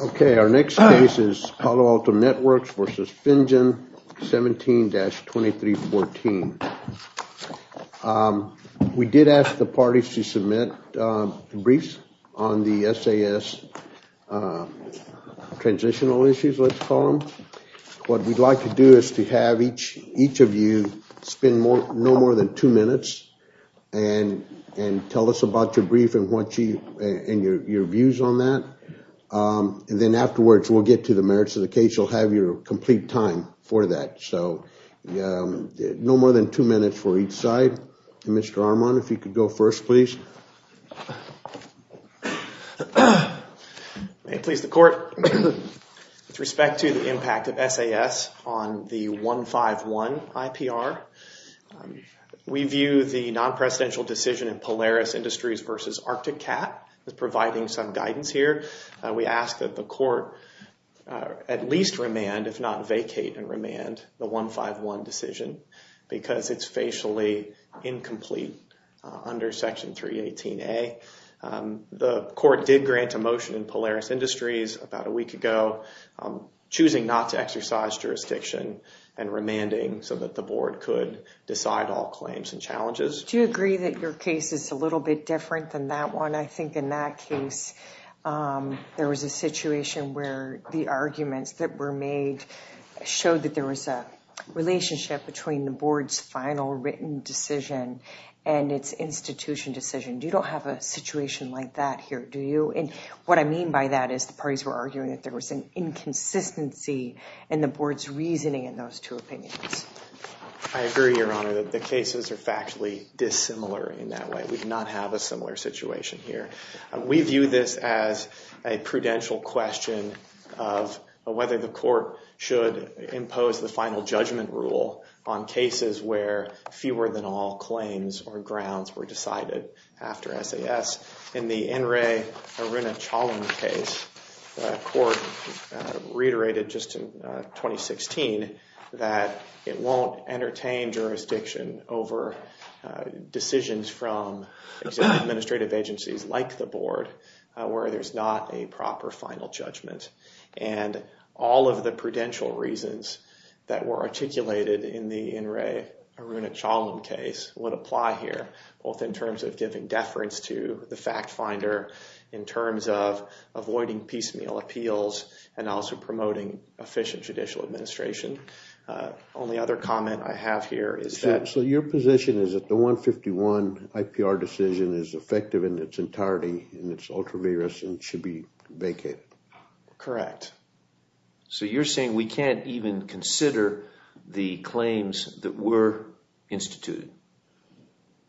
Okay, our next case is Palo Alto Networks v. Finjan, 17-2314. We did ask the parties to submit briefs on the SAS transitional issues, let's call them. What we'd like to do is to have each of you spend no more than two minutes and tell us about your brief and your views on that, and then afterwards we'll get to the merits of the case. You'll have your complete time for that, so no more than two minutes for each side. Mr. Armon, if you could go first please. May it please the court, with respect to the impact of SAS on the 151 IPR. We view the non-presidential decision in Polaris Industries v. Arctic Cat as providing some guidance here. We ask that the court at least remand, if not vacate and remand, the 151 decision because it's facially incomplete under Section 318A. The court did grant a motion in Polaris Industries about a week ago choosing not to exercise jurisdiction and remanding so that the board could decide all claims and challenges. Do you agree that your case is a little bit different than that one? I think in that case there was a situation where the arguments that were made showed that there was a relationship between the board's final written decision and its institution decision. You don't have a situation like that here, do you? And what I mean by that is the parties were arguing that there was an inconsistency in the board's two opinions. I agree, Your Honor, that the cases are factually dissimilar in that way. We do not have a similar situation here. We view this as a prudential question of whether the court should impose the final judgment rule on cases where fewer than all claims or grounds were decided after SAS. In the N. Ray Aruna-Chalam case, the court reiterated just in 2016 that it won't entertain jurisdiction over decisions from administrative agencies like the board where there's not a proper final judgment. And all of the prudential reasons that were articulated in the N. Ray Aruna-Chalam case would apply here, both in terms of giving avoiding piecemeal appeals and also promoting efficient judicial administration. The only other comment I have here is that... So your position is that the 151 IPR decision is effective in its entirety and it's ultra vigorous and should be vacated? Correct. So you're saying we can't even consider the claims that were instituted?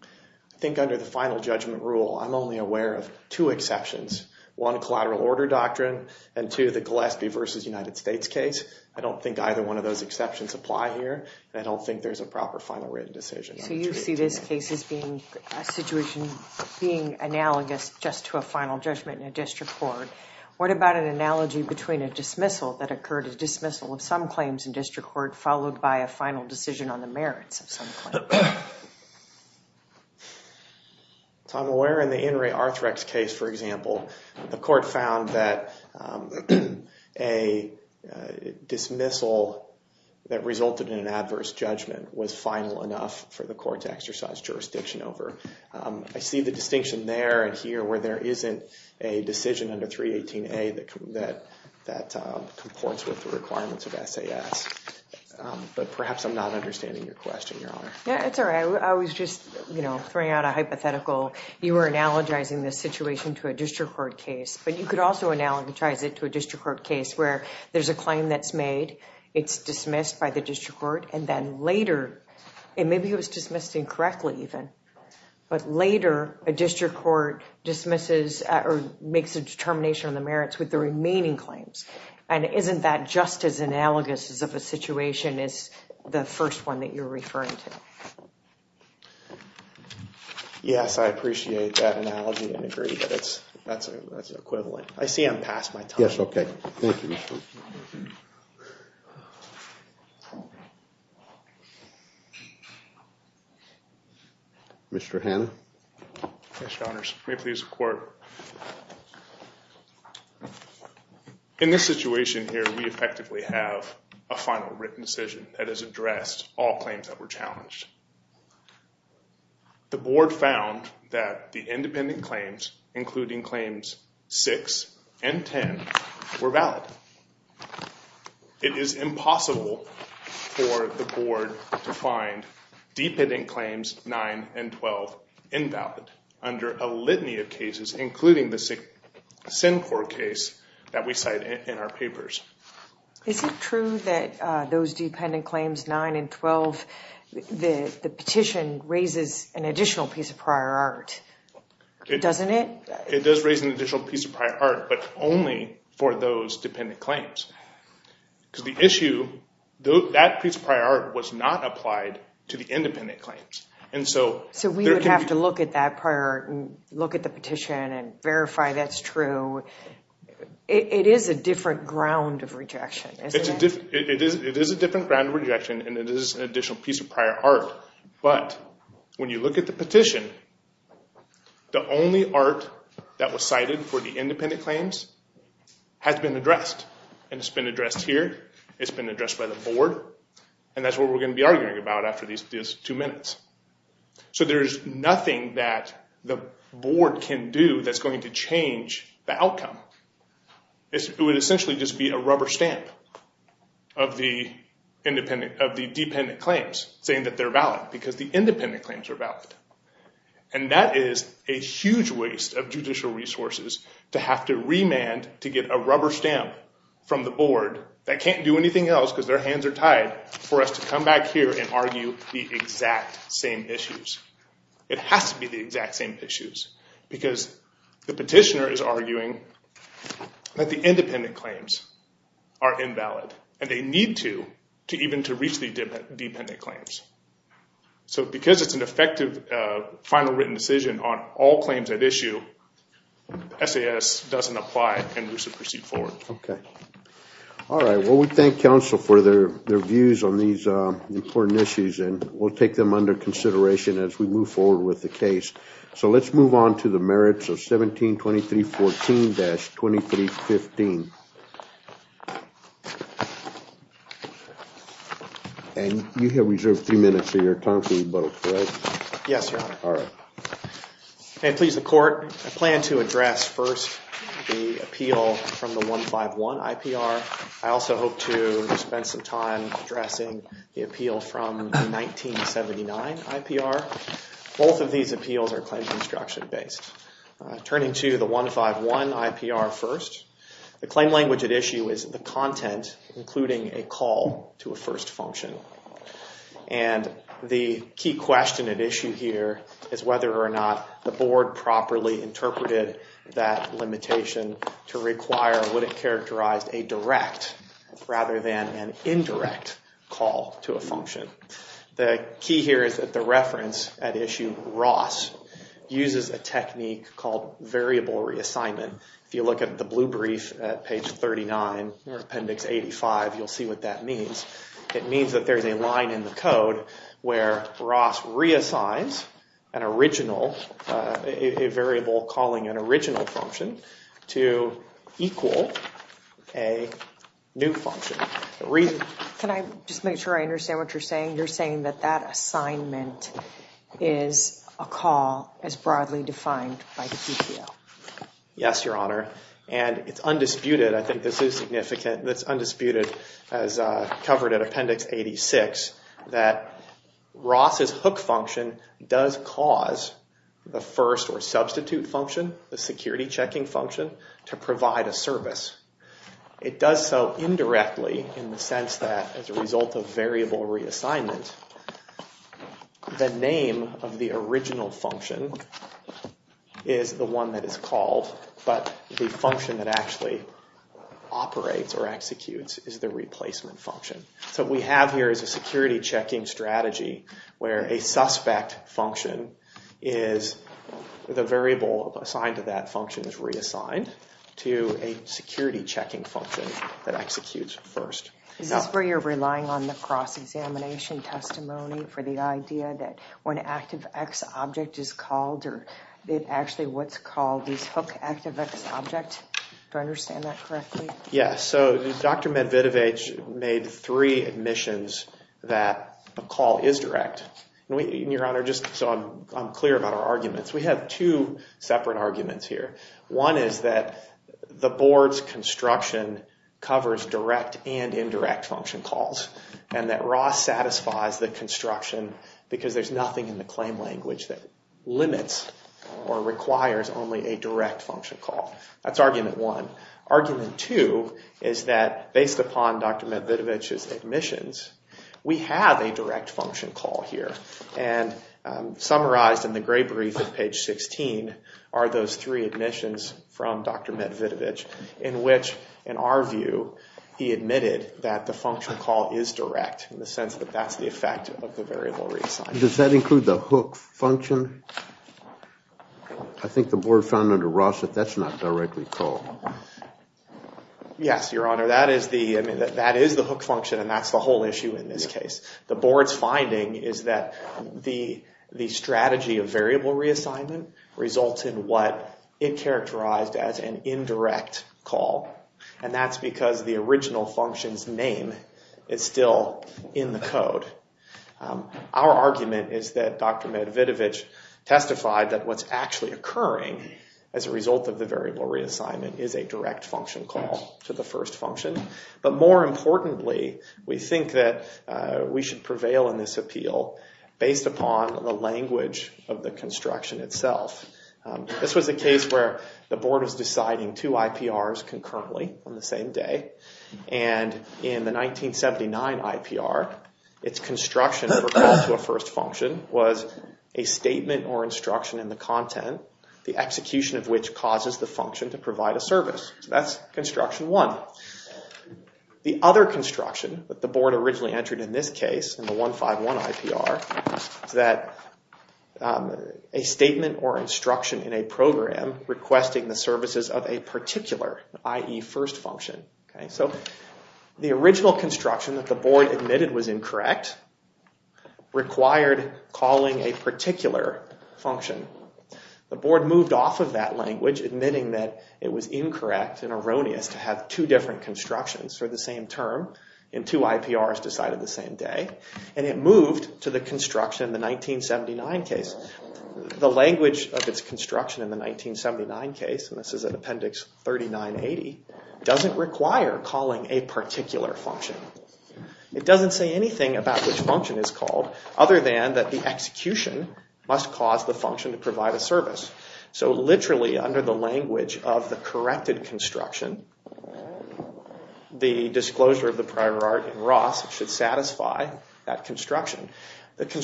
I think under the final judgment rule, I'm only aware of two exceptions. One, collateral order doctrine, and two, the Gillespie versus United States case. I don't think either one of those exceptions apply here. I don't think there's a proper final written decision. So you see this case as being a situation being analogous just to a final judgment in a district court. What about an analogy between a dismissal that occurred, a dismissal of some claims in district court, followed by a final decision on the merits of a claim? I'm aware in the N. Ray Arthrex case, for example, the court found that a dismissal that resulted in an adverse judgment was final enough for the court to exercise jurisdiction over. I see the distinction there and here where there isn't a decision under 318A that comports with the requirements of the court. Yeah, it's all right. I was just, you know, throwing out a hypothetical. You were analogizing this situation to a district court case, but you could also analogize it to a district court case where there's a claim that's made, it's dismissed by the district court, and then later, and maybe it was dismissed incorrectly even, but later a district court dismisses or makes a determination on the merits with the remaining claims. And isn't that just as analogous as of a district court case? Yes, I appreciate that analogy and agree, but it's, that's equivalent. I see I'm past my time. Yes, okay. Thank you. Mr. Hanna? Yes, Your Honors. May it please the Court. In this situation here, we effectively have a The Board found that the independent claims, including claims 6 and 10, were valid. It is impossible for the Board to find dependent claims 9 and 12 invalid under a litany of cases, including the Sincor case that we cite in our papers. Is it true that those dependent claims 9 and 12, the petition raises an additional piece of prior art, doesn't it? It does raise an additional piece of prior art, but only for those dependent claims. Because the issue, that piece of prior art was not applied to the independent claims. And so, so we would have to look at that prior art and look at the petition and verify that's true. It is a different ground of rejection, isn't it? It is, it is a different ground of rejection and it is an additional piece of prior art, but when you look at the petition, the only art that was cited for the independent claims has been addressed. And it's been addressed here, it's been addressed by the Board, and that's what we're going to be arguing about after these two minutes. So there's nothing that the Board can do that's going to change the outcome. It would essentially just be a rubber stamp of the independent, of the dependent claims saying that they're valid because the independent claims are valid. And that is a huge waste of judicial resources to have to remand to get a rubber stamp from the Board that can't do anything else because their hands are tied for us to come back here and argue the exact same issues. It has to be the exact same issues because the petitioner is arguing that the independent claims are invalid and they need to, to even to reach the dependent claims. So because it's an effective final written decision on all claims at issue, SAS doesn't apply and we should proceed forward. Okay, all right, well we thank counsel for their views on these important issues and we'll take them under consideration as we move forward with the case. So let's move on to the merits of 1723.14-23.15 and you have reserved three minutes of your time for rebuttal, correct? Yes, your honor. All right. And please the court, I plan to address first the appeal from the 151 IPR. I also hope to spend some time addressing the appeal from 1979 IPR. Both of these appeals are claims instruction based. Turning to the 151 IPR first, the claim language at issue is the content including a call to a first function. And the key question at issue here is whether or not the Board properly interpreted that limitation to require what it characterized a direct rather than an indirect call to a function. The key here is that the reference at issue Ross uses a technique called variable reassignment. If you look at the blue brief at page 39 or appendix 85 you'll see what that means. It means that there's a line in the code where Ross reassigns an original, a variable calling an original function to equal a new function. Can I just make sure I understand what you're saying? You're saying that that assignment is a call as broadly defined by the PPO? Yes, your honor. And it's undisputed, I think this is significant, that's undisputed as covered at appendix 86, that Ross's hook function does cause the first or substitute function, the security checking function, to provide a service. It does so indirectly in the sense that as a result of variable reassignment the name of the original function is the one that is called, but the function that actually operates or executes is the replacement function. So we have here is a security checking strategy where a suspect function is the variable assigned to that function is reassigned to a security checking function that executes first. Is this where you're relying on the cross-examination testimony for the idea that when an object, do I understand that correctly? Yes, so Dr. Medvedevich made three admissions that a call is direct. Your honor, just so I'm clear about our arguments, we have two separate arguments here. One is that the board's construction covers direct and indirect function calls and that Ross satisfies the construction because there's nothing in the claim language that limits or allows a direct function call. That's argument one. Argument two is that based upon Dr. Medvedevich's admissions, we have a direct function call here and summarized in the gray brief at page 16 are those three admissions from Dr. Medvedevich in which, in our view, he admitted that the function call is direct in the sense that that's the effect of the variable reassignment. Does that include the hook function? I think the board found under Ross that that's not directly called. Yes, your honor, that is the, I mean, that is the hook function and that's the whole issue in this case. The board's finding is that the strategy of variable reassignment results in what it characterized as an indirect call and that's because the original function's name is still in the is that Dr. Medvedevich testified that what's actually occurring as a result of the variable reassignment is a direct function call to the first function. But more importantly, we think that we should prevail in this appeal based upon the language of the construction itself. This was a case where the board was deciding two IPRs concurrently on the same day and in the 1979 IPR, its construction for a first function was a statement or instruction in the content, the execution of which causes the function to provide a service. That's construction one. The other construction that the board originally entered in this case, in the 151 IPR, is that a statement or instruction in a program requesting the services of a particular, i.e. first function. So the original construction that the board admitted was incorrect required calling a particular function. The board moved off of that language admitting that it was incorrect and erroneous to have two different constructions for the same term and two IPRs decided the same day and it moved to the construction in the 1979 case. The language of its construction in the 1979 case, and this is an appendix 3980, doesn't require calling a particular function. It doesn't say anything about which function is called other than that the execution must cause the function to provide a service. So literally under the language of the corrected construction, the disclosure of the prior art in Ross should satisfy that construction. Would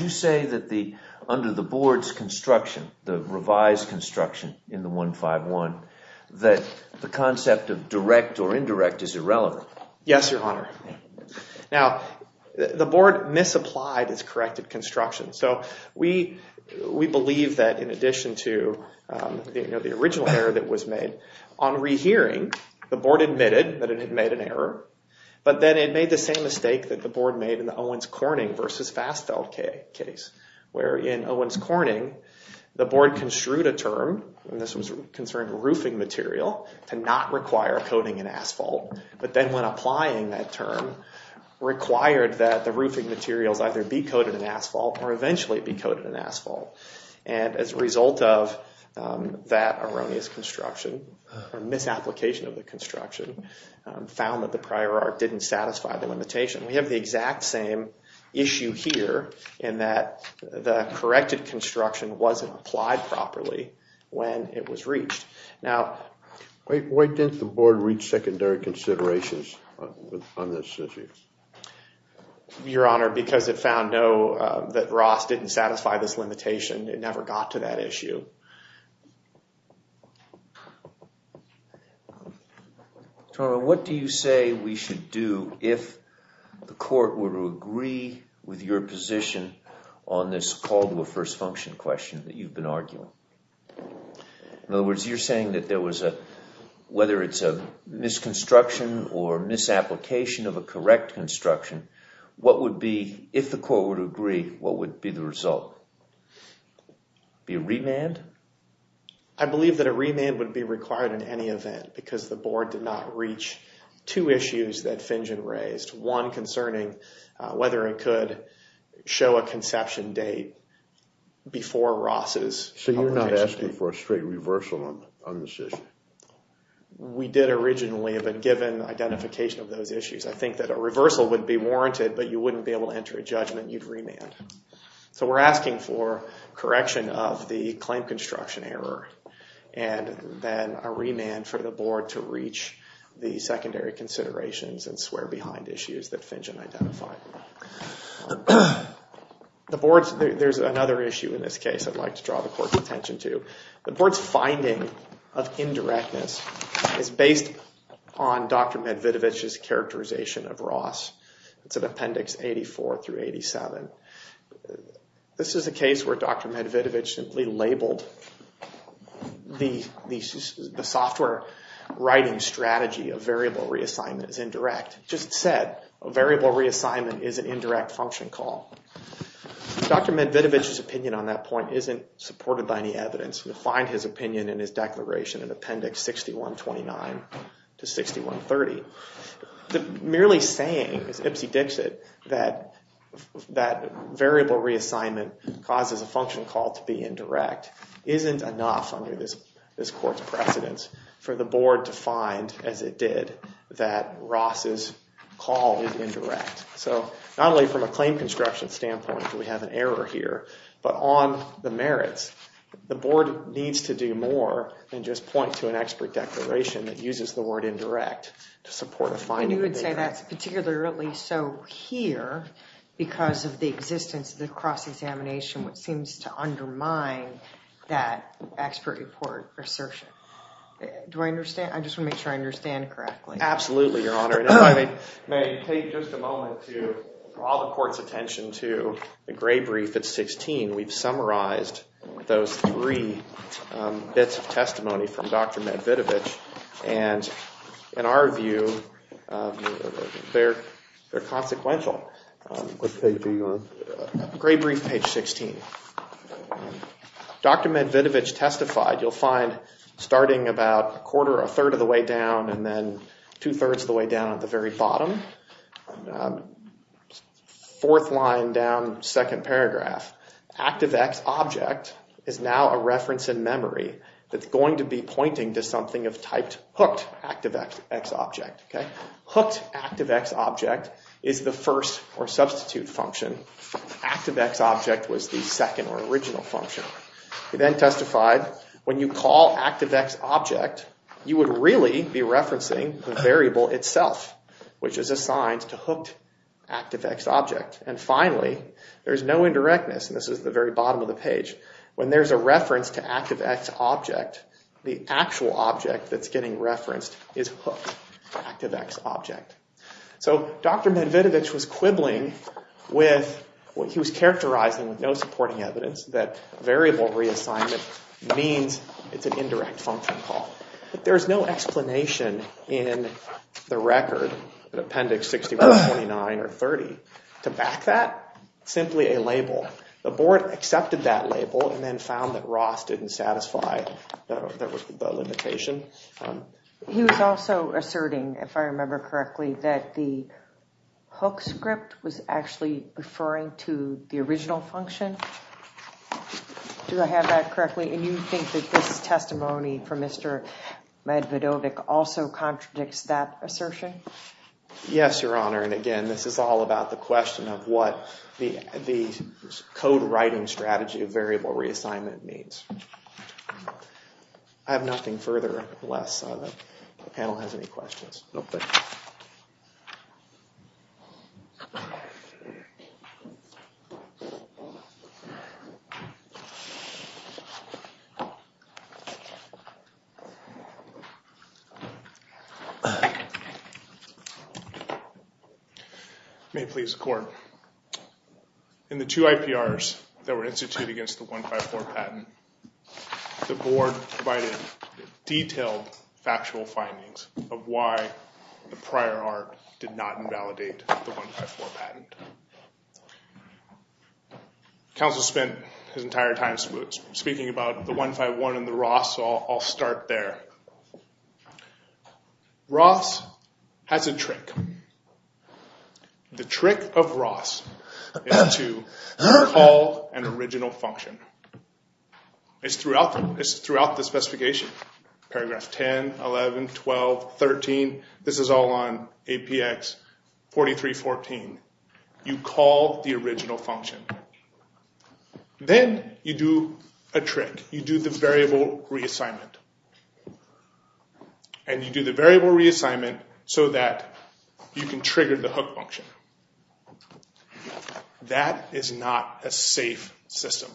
you say that under the board's construction, the revised construction in the 151, that the concept of direct or indirect is irrelevant? Yes, your honor. Now the board misapplied its corrected construction. So we believe that in addition to the original error that was made, on re-hearing the board admitted that it had made an error but then it made the same mistake that the board made in the Owens-Corning versus Fassfeld case, where in Owens-Corning the board construed a term, and this was concerned roofing material, to not require coating in asphalt. But then when applying that term, required that the roofing materials either be coated in asphalt or eventually be coated in asphalt. And as a result of that erroneous construction, or misapplication of the construction, found that the prior art didn't satisfy the limitation. We believe that the corrected construction wasn't applied properly when it was reached. Now, why didn't the board reach secondary considerations on this issue? Your honor, because it found that Ross didn't satisfy this limitation. It never got to that issue. What do you say we should do if the court were to agree with your position on this call to a first function question that you've been arguing? In other words, you're saying that there was a, whether it's a misconstruction or misapplication of a correct construction, what would be, if the court would agree, what would be the result? Be a remand? I believe that a remand would be required in any event, because the board did not reach two issues that Fingen raised. One concerning whether it could show a conception date before Ross's... So you're not asking for a straight reversal on this issue? We did originally, but given identification of those issues, I think that a reversal would be warranted, but you wouldn't be able to enter a judgment, you'd remand. So we're asking for correction of the claim construction error, and then a remand for the board to identify. There's another issue in this case I'd like to draw the court's attention to. The board's finding of indirectness is based on Dr. Medvidovich's characterization of Ross. It's in Appendix 84 through 87. This is a case where Dr. Medvidovich simply labeled the software writing strategy of variable reassignment as an indirect function call. Dr. Medvidovich's opinion on that point isn't supported by any evidence. You'll find his opinion in his declaration in Appendix 6129 to 6130. The merely saying, as Ipsy dicks it, that variable reassignment causes a function call to be indirect isn't enough under this court's precedence for the board to find, as it did, that Ross's call is indirect. So not only from a claim construction standpoint do we have an error here, but on the merits. The board needs to do more than just point to an expert declaration that uses the word indirect to support a finding. You would say that's particularly so here because of the existence of the cross-examination, which seems to undermine that expert report assertion. Do I understand? I just want to make sure I understand correctly. Absolutely, Your Honor. If you may take just a moment to draw the court's attention to the gray brief at 16. We've summarized those three bits of testimony from Dr. Medvidovich and in our view they're consequential. What page are you on? Gray brief page 16. Dr. Medvidovich testified. You'll find starting about a quarter or a third of the way down and then two-thirds of the way down at the very bottom. Fourth line down, second paragraph. Active X object is now a reference in memory that's going to be pointing to something of type hooked active X object. Hooked active X object is the first or substitute function. Active X object was the second or original function. He then testified when you call active X object you would really be referencing the variable itself, which is assigned to hooked active X object. And finally, there's no indirectness. This is the very bottom of the page. When there's a reference to active X object, the actual object that's getting referenced is hooked active X object. So Dr. Medvidovich was quibbling with what he was characterizing with no supporting evidence that variable reassignment means it's an indirect function call. But there's no explanation in the record in appendix 61, 29, or 30 to back that. Simply a label. The board accepted that label and then found that Ross didn't satisfy the limitation. He was also asserting, if I remember correctly, that the hook script was actually referring to the original function. Do I have that correctly? And you think that this testimony from Mr. Medvidovich also contradicts that assertion? Yes, Your Honor. And again, this is all about the question of what the code writing strategy of variable reassignment means. I have nothing further. Unless the panel has any questions. May it please the Court. In the two IPRs that were instituted against the 154 patent, the board provided detailed factual findings of why the prior art did not invalidate the 154 patent. Counsel spent his entire time speaking about the 151 and the Ross, so I'll start there. Ross has a trick. The trick of the hook function is throughout the specification. Paragraph 10, 11, 12, 13. This is all on APX 4314. You call the original function. Then you do a trick. You do the variable reassignment. And you do the variable reassignment so that you can trigger the system.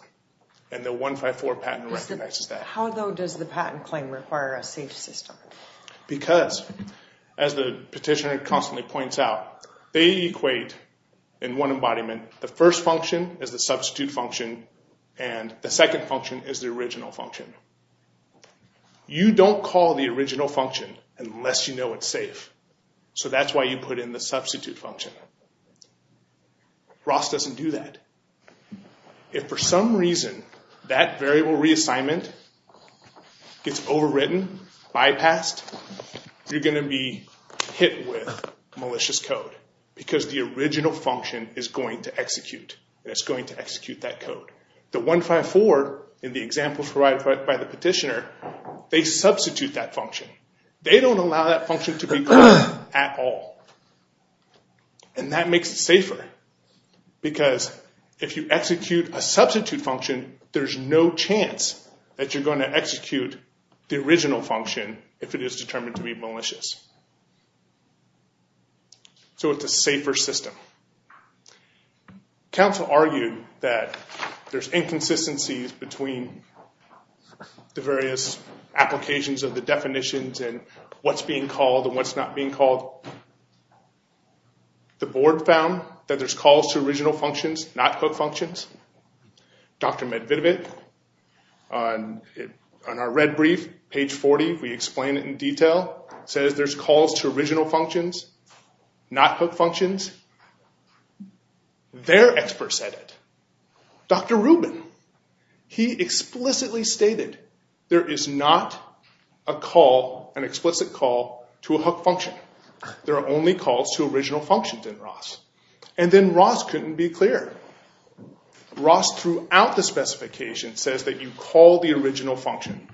And the 154 patent recognizes that. How though does the patent claim require a safe system? Because, as the petitioner constantly points out, they equate in one embodiment, the first function is the substitute function and the second function is the original function. You don't call the original function unless you know it's safe. So that's why you put in the substitute function. Ross doesn't do that. If for some reason that variable reassignment gets overwritten, bypassed, you're gonna be hit with malicious code because the original function is going to execute. It's going to execute that code. The 154 in the example provided by the petitioner, they substitute that function. They don't allow that function to be called at all. And that makes it safer. Because if you execute a substitute function, there's no chance that you're going to execute the original function if it is determined to be malicious. So it's a safer system. Council argued that there's inconsistencies between the definitions and what's being called and what's not being called. The board found that there's calls to original functions, not hook functions. Dr. Medvedevic, on our red brief, page 40, we explain it in detail, says there's calls to original functions, not hook functions. Their expert said it. Dr. Rubin, he explicitly stated there is not a call, an explicit call, to a hook function. There are only calls to original functions in ROS. And then ROS couldn't be clear. ROS throughout the specification says that you call the original function.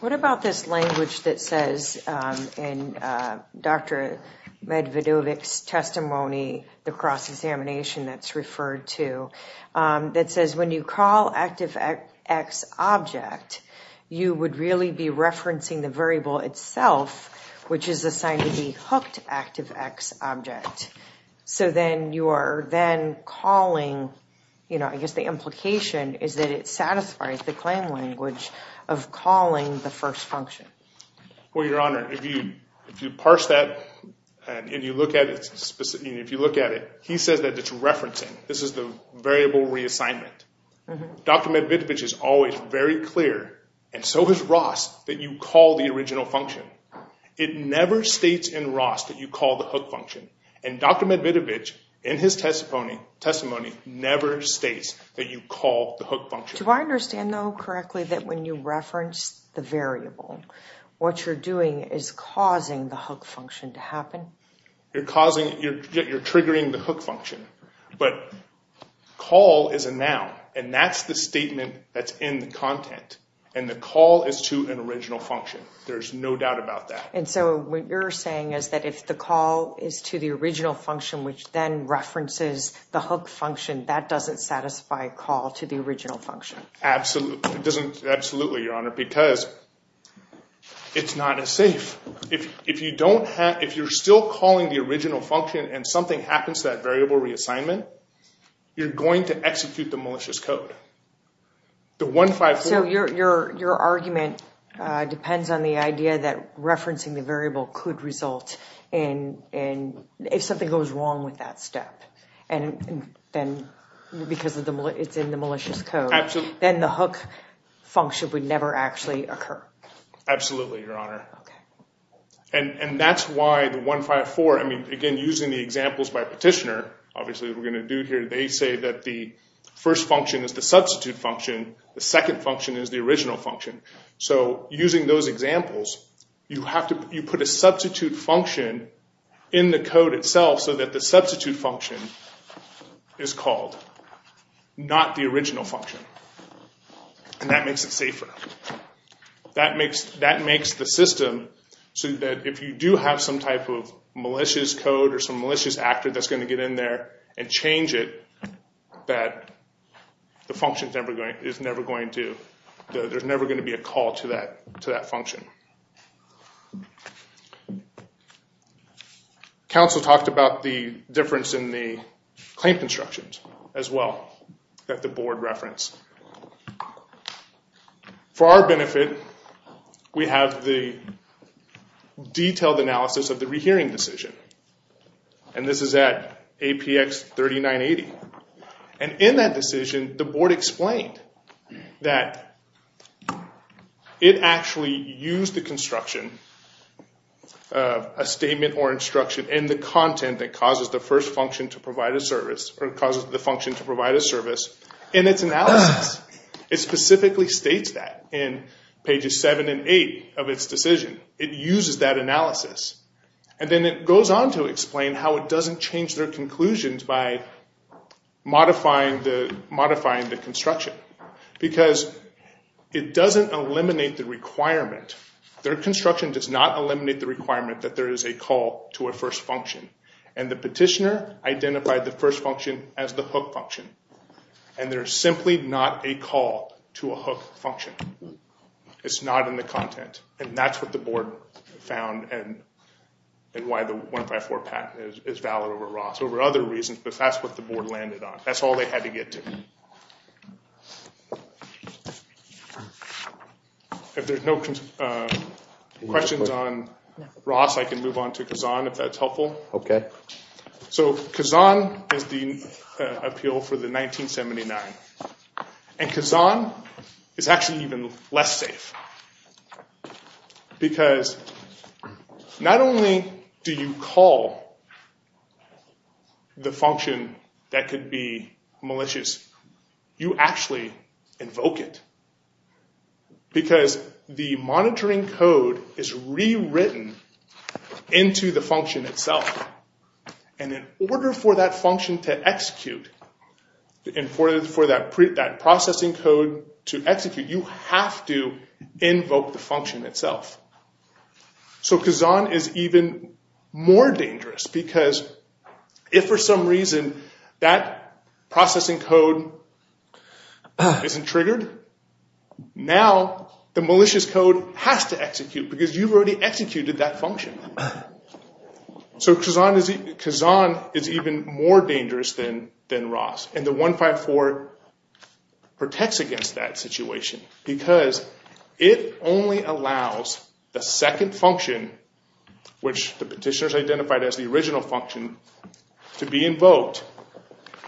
What about this language that says in Dr. Medvedevic's testimony, the cross object, you would really be referencing the variable itself, which is assigned to be hooked active X object. So then you are then calling, you know, I guess the implication is that it satisfies the claim language of calling the first function. Well, Your Honor, if you if you parse that and you look at it, if you look at it, he says that it's referencing. This is the variable reassignment. Dr. Medvedevic is always very clear, and so is ROS, that you call the original function. It never states in ROS that you call the hook function. And Dr. Medvedevic, in his testimony, never states that you call the hook function. Do I understand though correctly that when you reference the variable, what you're doing is causing the hook function to happen? You're triggering the hook function. But call is a noun, and that's the statement that's in the content. And the call is to an original function. There's no doubt about that. And so what you're saying is that if the call is to the original function, which then references the hook function, that doesn't satisfy call to the original function? Absolutely. It doesn't, absolutely, Your Honor, because it's not as safe. If you don't have, if you're still calling the original function and something happens to that variable reassignment, you're going to execute the malicious code. So your argument depends on the idea that referencing the variable could result in, if something goes wrong with that step, and then because it's in the malicious code, then the hook function would never actually occur? Absolutely, Your Honor. And that's why 1.5.4, I mean, again, using the examples by Petitioner, obviously, we're going to do here, they say that the first function is the substitute function, the second function is the original function. So using those examples, you have to put a substitute function in the code itself so that the substitute function is called, not the original function. And that makes it safer. That makes the system so that if you do have some type of malicious code or some malicious actor that's going to get in there and change it, that the function is never going to, there's never going to be a call to that function. Counsel talked about the difference in the claim constructions as well that the detailed analysis of the rehearing decision. And this is at APX 3980. And in that decision, the board explained that it actually used the construction of a statement or instruction and the content that causes the first function to provide a service, or causes the function to provide a service, in its analysis. It uses that analysis. And then it goes on to explain how it doesn't change their conclusions by modifying the construction. Because it doesn't eliminate the requirement, their construction does not eliminate the requirement that there is a call to a first function. And the Petitioner identified the first function as the hook function. And there's simply not a call to a hook function. It's not in the content. And that's what the board found and why the 154 patent is valid over Ross. Over other reasons, but that's what the board landed on. That's all they had to get to. If there's no questions on Ross, I can move on to Kazan, if that's helpful. Okay. So Kazan is the appeal for the Petitioner. Kazan is actually even less safe. Because not only do you call the function that could be malicious, you actually invoke it. Because the monitoring code is rewritten into the function itself. And in order for that function to execute, in order for that processing code to execute, you have to invoke the function itself. So Kazan is even more dangerous. Because if for some reason that processing code isn't triggered, now the malicious code has to execute. Because you've already executed that function. So Kazan is even more dangerous than Ross. And the 154 protects against that situation. Because it only allows the second function, which the Petitioner's identified as the original function, to be invoked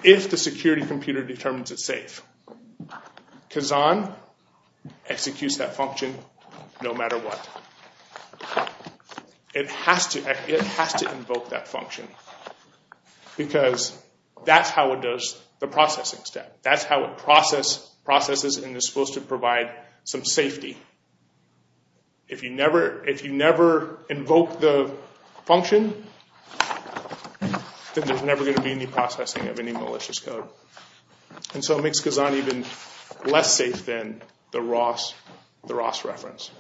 if the security computer determines it's safe. Kazan executes that function no matter what. It has to invoke that function. Because that's how it does the processing step. That's how it processes and is supposed to provide some safety. If you never invoke the function, then there's never going to be any processing of any malicious code. And so it makes Kazan even less safe than the Ross reference.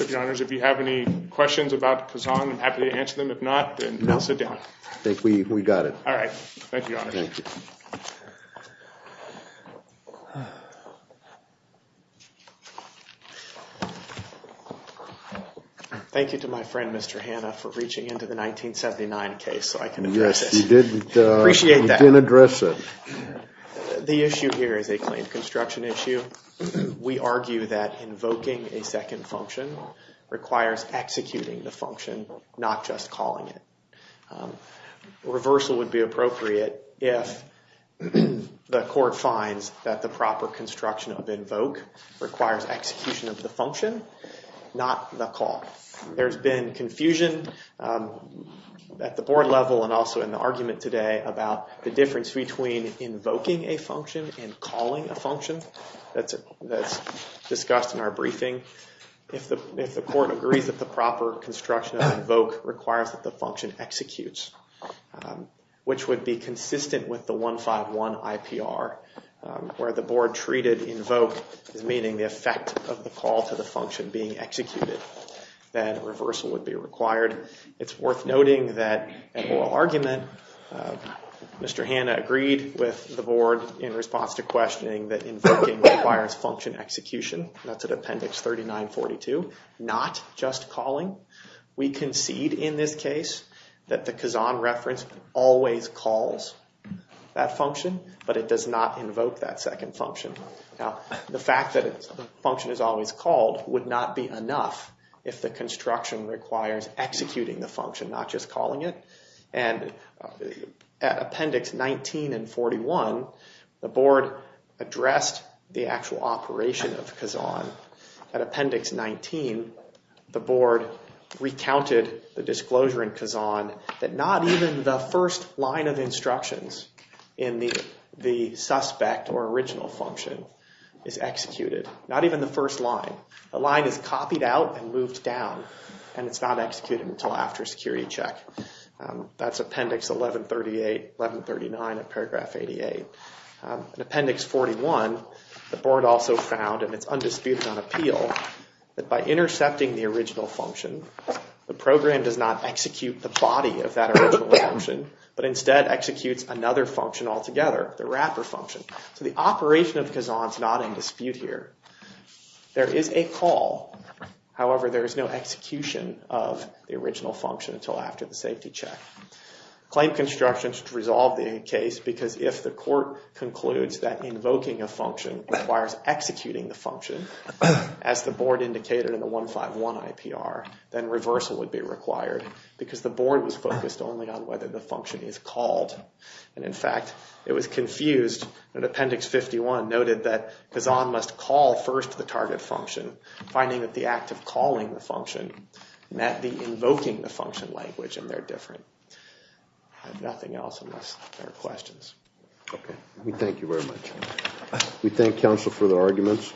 If you have any questions about Kazan, I'm happy to answer them. If not, I think we got it. All right. Thank you. Thank you. Thank you to my friend Mr. Hanna for reaching into the 1979 case so I can address it. Yes, you did. I appreciate that. You did address it. The issue here is a claimed construction issue. We argue that invoking a second function requires executing the function, not just calling it. Reversal would be appropriate if the court finds that the proper construction of invoke requires execution of the function, not the call. There's been confusion at the board level and also in the argument today about the difference between invoking a If the court agrees that the proper construction of invoke requires that the function executes, which would be consistent with the 151 IPR where the board treated invoke as meaning the effect of the call to the function being executed, then reversal would be required. It's worth noting that in oral argument, Mr. Hanna agreed with the board in response to questioning that invoking requires function execution. That's at appendix 3942, not just calling. We concede in this case that the Kazan reference always calls that function, but it does not invoke that second function. Now the fact that it's a function is always called would not be enough if the construction requires executing the actual operation of Kazan. At appendix 19, the board recounted the disclosure in Kazan that not even the first line of instructions in the the suspect or original function is executed. Not even the first line. The line is copied out and moved down and it's not executed until after security check. That's appendix 41. The board also found, and it's undisputed on appeal, that by intercepting the original function, the program does not execute the body of that original function, but instead executes another function altogether, the wrapper function. So the operation of Kazan is not in dispute here. There is a call, however there is no execution of the original function until after the safety check. Claim construction should resolve the case because if the court concludes that invoking a function requires executing the function as the board indicated in the 151 IPR, then reversal would be required because the board was focused only on whether the function is called. And in fact it was confused when appendix 51 noted that Kazan must call first the target function, finding that the act of calling the function met the invoking the function. We thank you very much. We thank counsel for the arguments.